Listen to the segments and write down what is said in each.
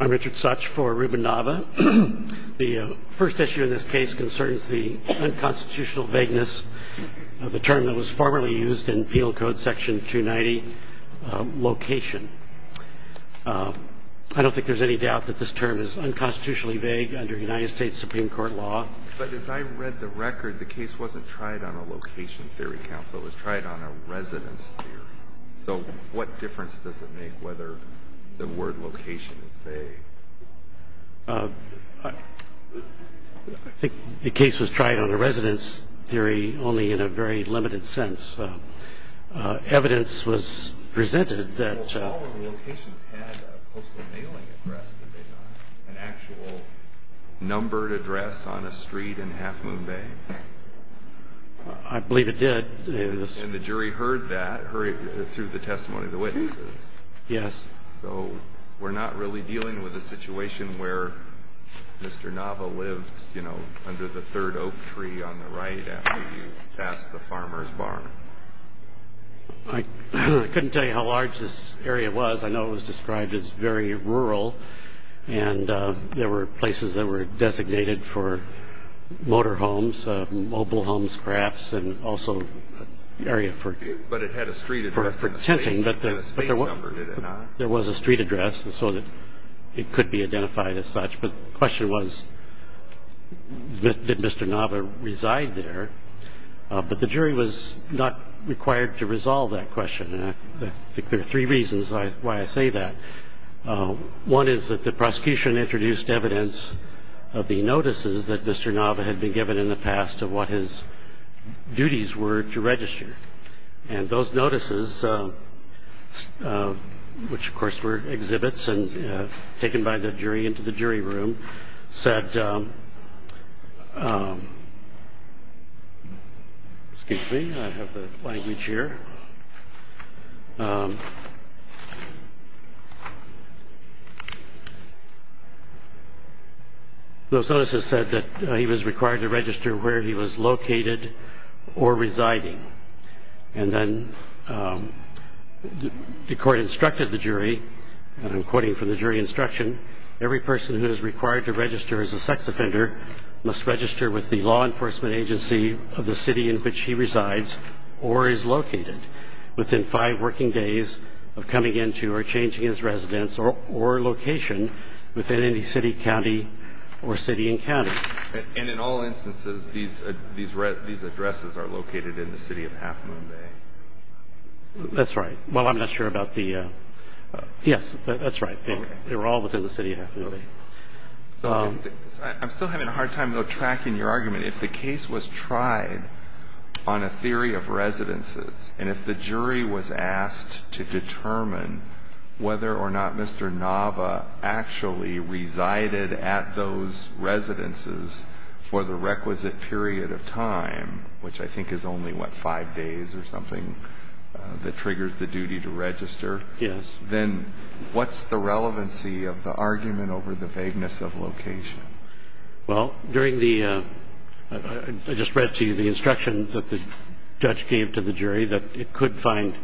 I'm Richard Such for Ruben Nava. The first issue in this case concerns the unconstitutional vagueness of the term that was formerly used in Peel Code section 290, location. I don't think there's any doubt that this term is unconstitutionally vague under United States Supreme Court law. But as I read the record, the case wasn't tried on a location theory counsel. It was tried on a residence theory. So what difference does it make whether the word location is vague? I think the case was tried on a residence theory only in a very limited sense. Evidence was presented that... Well, all of the locations had a postal mailing address, did they not? An actual numbered address on a street in Half Moon Bay? I believe it did. And the jury heard that through the testimony of the witnesses? Yes. So we're not really dealing with a situation where Mr. Nava lived, you know, under the third oak tree on the right after you passed the farmer's barn? I couldn't tell you how large this area was. I know it was described as very rural. And there were places that were designated for motor homes, mobile homes, crafts, and also area for... But it had a street address. For tenting. It had a space number, did it not? There was a street address so that it could be identified as such. But the question was, did Mr. Nava reside there? But the jury was not required to resolve that question. I think there are three reasons why I say that. One is that the prosecution introduced evidence of the notices that Mr. Nava had been given in the past of what his duties were to register. And those notices, which of course were exhibits and taken by the jury into the jury room, said... Excuse me, I have the language here. Those notices said that he was required to register where he was located or residing. And then the court instructed the jury, and I'm quoting from the jury instruction, every person who is required to register as a sex offender must register with the law enforcement agency of the city in which he resides or is located. Within five working days of coming into or changing his residence or location within any city, county, or city and county. And in all instances, these addresses are located in the city of Half Moon Bay? That's right. Well, I'm not sure about the... Yes, that's right. They were all within the city of Half Moon Bay. I'm still having a hard time, though, tracking your argument. If the case was tried on a theory of residences, and if the jury was asked to determine whether or not Mr. Nava actually resided at those residences for the requisite period of time, which I think is only, what, five days or something that triggers the duty to register? Yes. Then what's the relevancy of the argument over the vagueness of location? Well, during the... I just read to you the instruction that the judge gave to the jury that it could find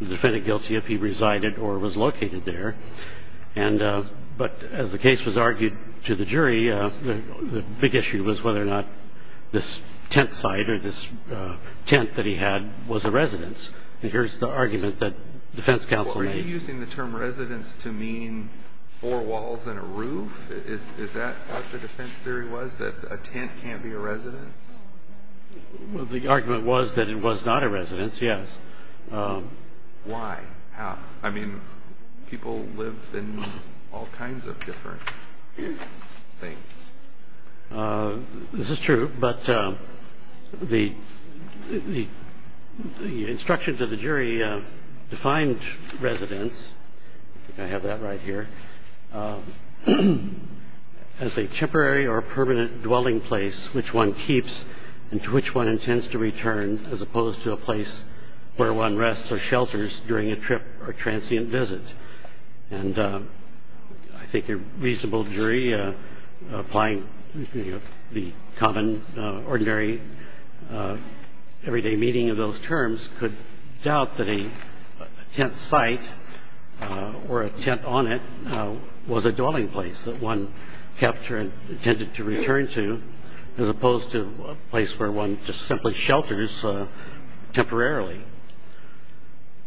the defendant guilty if he resided or was located there. But as the case was argued to the jury, the big issue was whether or not this tent site or this tent that he had was a residence. And here's the argument that defense counsel made. Are you using the term residence to mean four walls and a roof? Is that what the defense theory was, that a tent can't be a residence? Well, the argument was that it was not a residence, yes. Why? How? I mean, people live in all kinds of different things. This is true, but the instruction to the jury defined residence, I have that right here, as a temporary or permanent dwelling place which one keeps and to which one intends to return, as opposed to a place where one rests or shelters during a trip or transient visit. And I think a reasonable jury applying the common, ordinary, everyday meaning of those terms could doubt that a tent site or a tent on it was a dwelling place that one kept or intended to return to, as opposed to a place where one just simply shelters temporarily.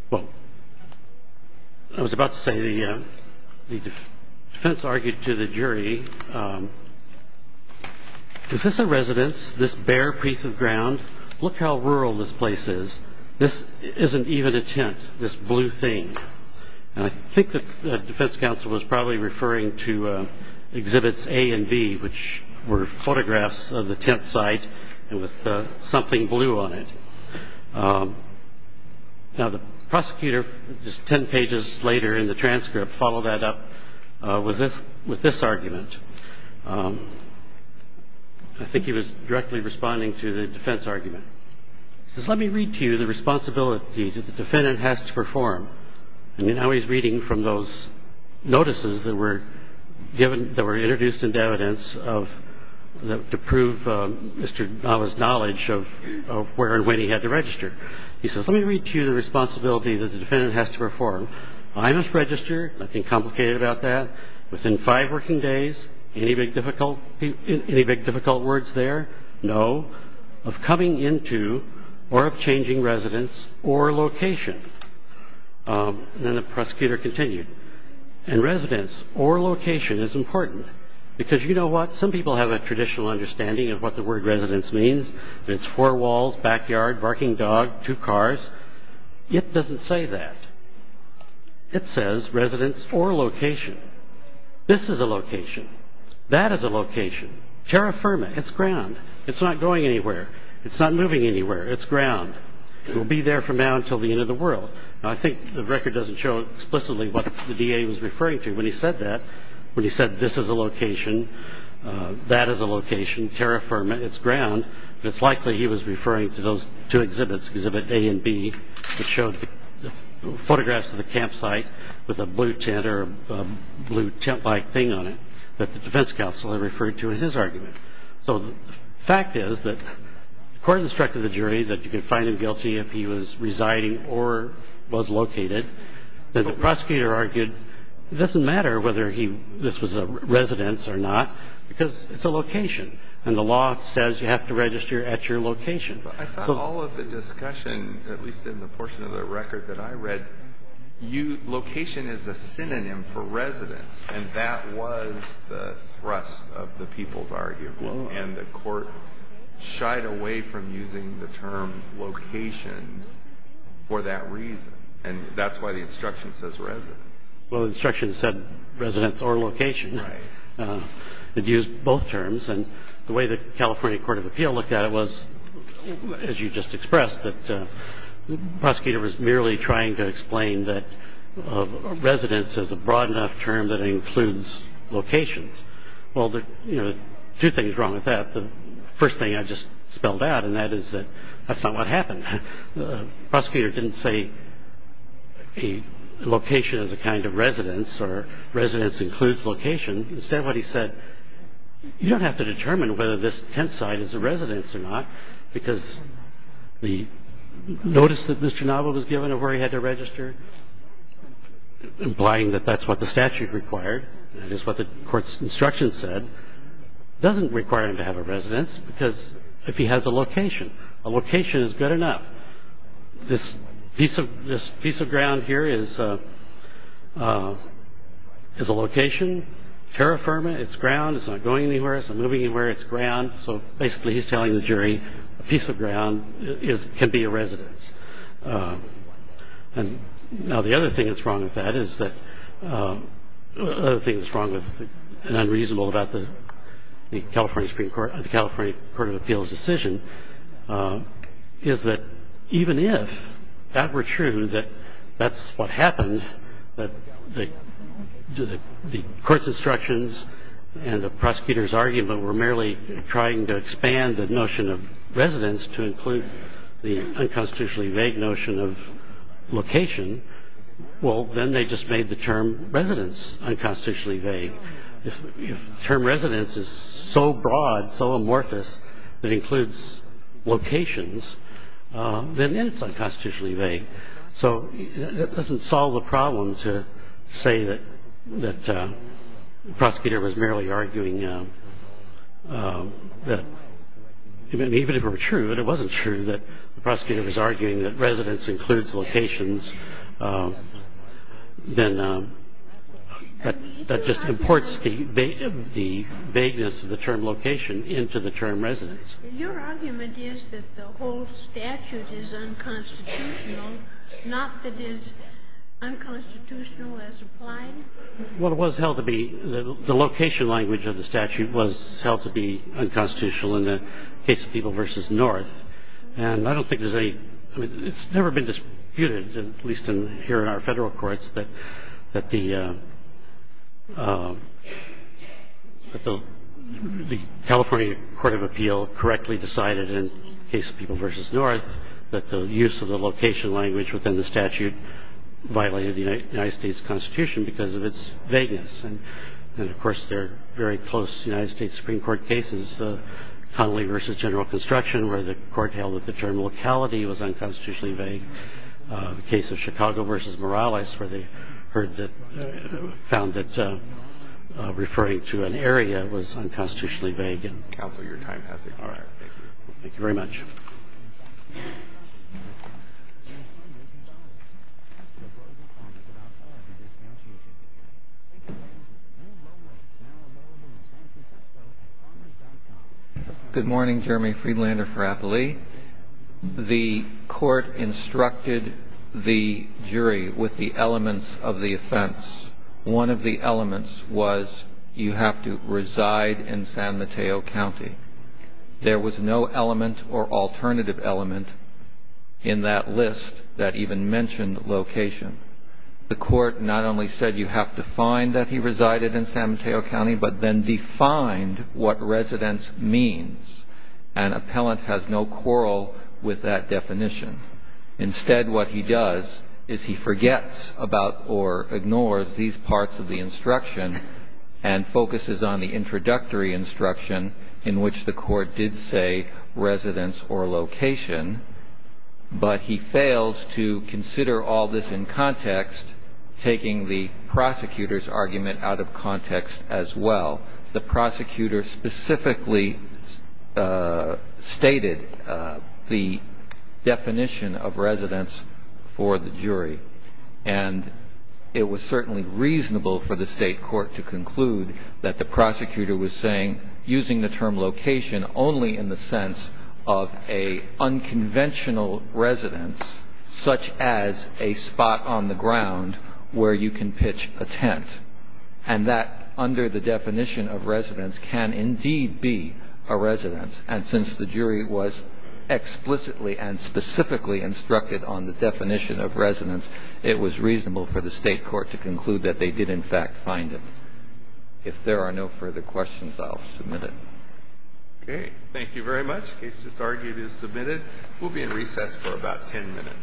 Well, I was about to say the defense argued to the jury, is this a residence, this bare piece of ground? Look how rural this place is. This isn't even a tent, this blue thing. And I think that defense counsel was probably referring to exhibits A and B, which were photographs of the tent site with something blue on it. Now, the prosecutor, just 10 pages later in the transcript, followed that up with this argument. I think he was directly responding to the defense argument. He says, let me read to you the responsibility that the defendant has to perform. I mean, now he's reading from those notices that were introduced into evidence to prove Mr. Nava's knowledge of where and when he had to register. He says, let me read to you the responsibility that the defendant has to perform. I must register, nothing complicated about that, within five working days. Any big difficult words there? No. Of coming into or of changing residence or location. And then the prosecutor continued. And residence or location is important. Because you know what? Some people have a traditional understanding of what the word residence means. It's four walls, backyard, barking dog, two cars. It doesn't say that. It says residence or location. This is a location. That is a location. Terra firma, it's ground. It's not going anywhere. It's not moving anywhere. It's ground. It will be there from now until the end of the world. Now, I think the record doesn't show explicitly what the DA was referring to when he said that, residence or location. That is a location. Terra firma, it's ground. It's likely he was referring to those two exhibits, exhibit A and B, which showed photographs of the campsite with a blue tent or a blue tent-like thing on it that the defense counsel had referred to as his argument. So the fact is that the court instructed the jury that you could find him guilty if he was residing or was located. The prosecutor argued it doesn't matter whether this was a residence or not because it's a location, and the law says you have to register at your location. I thought all of the discussion, at least in the portion of the record that I read, location is a synonym for residence, and that was the thrust of the people's argument, and the court shied away from using the term location for that reason. And that's why the instruction says residence. Well, the instruction said residence or location. Right. It used both terms, and the way the California Court of Appeal looked at it was, as you just expressed, that the prosecutor was merely trying to explain that residence is a broad enough term that it includes locations. Well, there are two things wrong with that. The first thing I just spelled out, and that is that that's not what happened. The prosecutor didn't say a location is a kind of residence or residence includes location. Instead what he said, you don't have to determine whether this tent site is a residence or not because the notice that Mr. Nava was given of where he had to register, implying that that's what the statute required, that is what the court's instruction said, doesn't require him to have a residence because if he has a location. A location is good enough. This piece of ground here is a location. Terra firma, it's ground. It's not going anywhere. It's not moving anywhere. It's ground. So basically he's telling the jury a piece of ground can be a residence. And now the other thing that's wrong with that is that, the other thing that's wrong with and unreasonable about the California Supreme Court, the California Court of Appeals decision is that even if that were true, that that's what happened, that the court's instructions and the prosecutor's argument were merely trying to expand the notion of residence to include the unconstitutionally vague notion of location. Well, then they just made the term residence unconstitutionally vague. If the term residence is so broad, so amorphous, that includes locations, then it's unconstitutionally vague. So that doesn't solve the problem to say that the prosecutor was merely arguing that even if it were true, but it wasn't true that the prosecutor was arguing that residence includes locations, then that just imports the vagueness of the term location into the term residence. Your argument is that the whole statute is unconstitutional, not that it's unconstitutional as applied? Well, it was held to be, the location language of the statute was held to be unconstitutional in the case of People v. North. And I don't think there's any, I mean, it's never been disputed, at least here in our federal courts, that the California Court of Appeal correctly decided in the case of People v. North that the use of the location language within the statute violated the United States Constitution because of its vagueness. And, of course, there are very close United States Supreme Court cases, Connolly v. General Construction, where the court held that the term locality was unconstitutionally vague. The case of Chicago v. Morales, where they found that referring to an area was unconstitutionally vague. Counsel, your time has expired. Thank you very much. Thank you. Good morning. Jeremy Friedlander for Appley. The court instructed the jury with the elements of the offense. One of the elements was you have to reside in San Mateo County. There was no element or alternative element in that list that even mentioned location. The court not only said you have to find that he resided in San Mateo County, but then defined what residence means. An appellant has no quarrel with that definition. Instead, what he does is he forgets about or ignores these parts of the instruction and focuses on the introductory instruction in which the court did say residence or location, but he fails to consider all this in context, taking the prosecutor's argument out of context as well. The prosecutor specifically stated the definition of residence for the jury, and it was certainly reasonable for the state court to conclude that the prosecutor was saying, using the term location only in the sense of a unconventional residence, such as a spot on the ground where you can pitch a tent, and that under the definition of residence can indeed be a residence. And since the jury was explicitly and specifically instructed on the definition of residence, it was reasonable for the state court to conclude that they did, in fact, find him. If there are no further questions, I'll submit it. Okay. Thank you very much. The case just argued is submitted. We'll be in recess for about 10 minutes.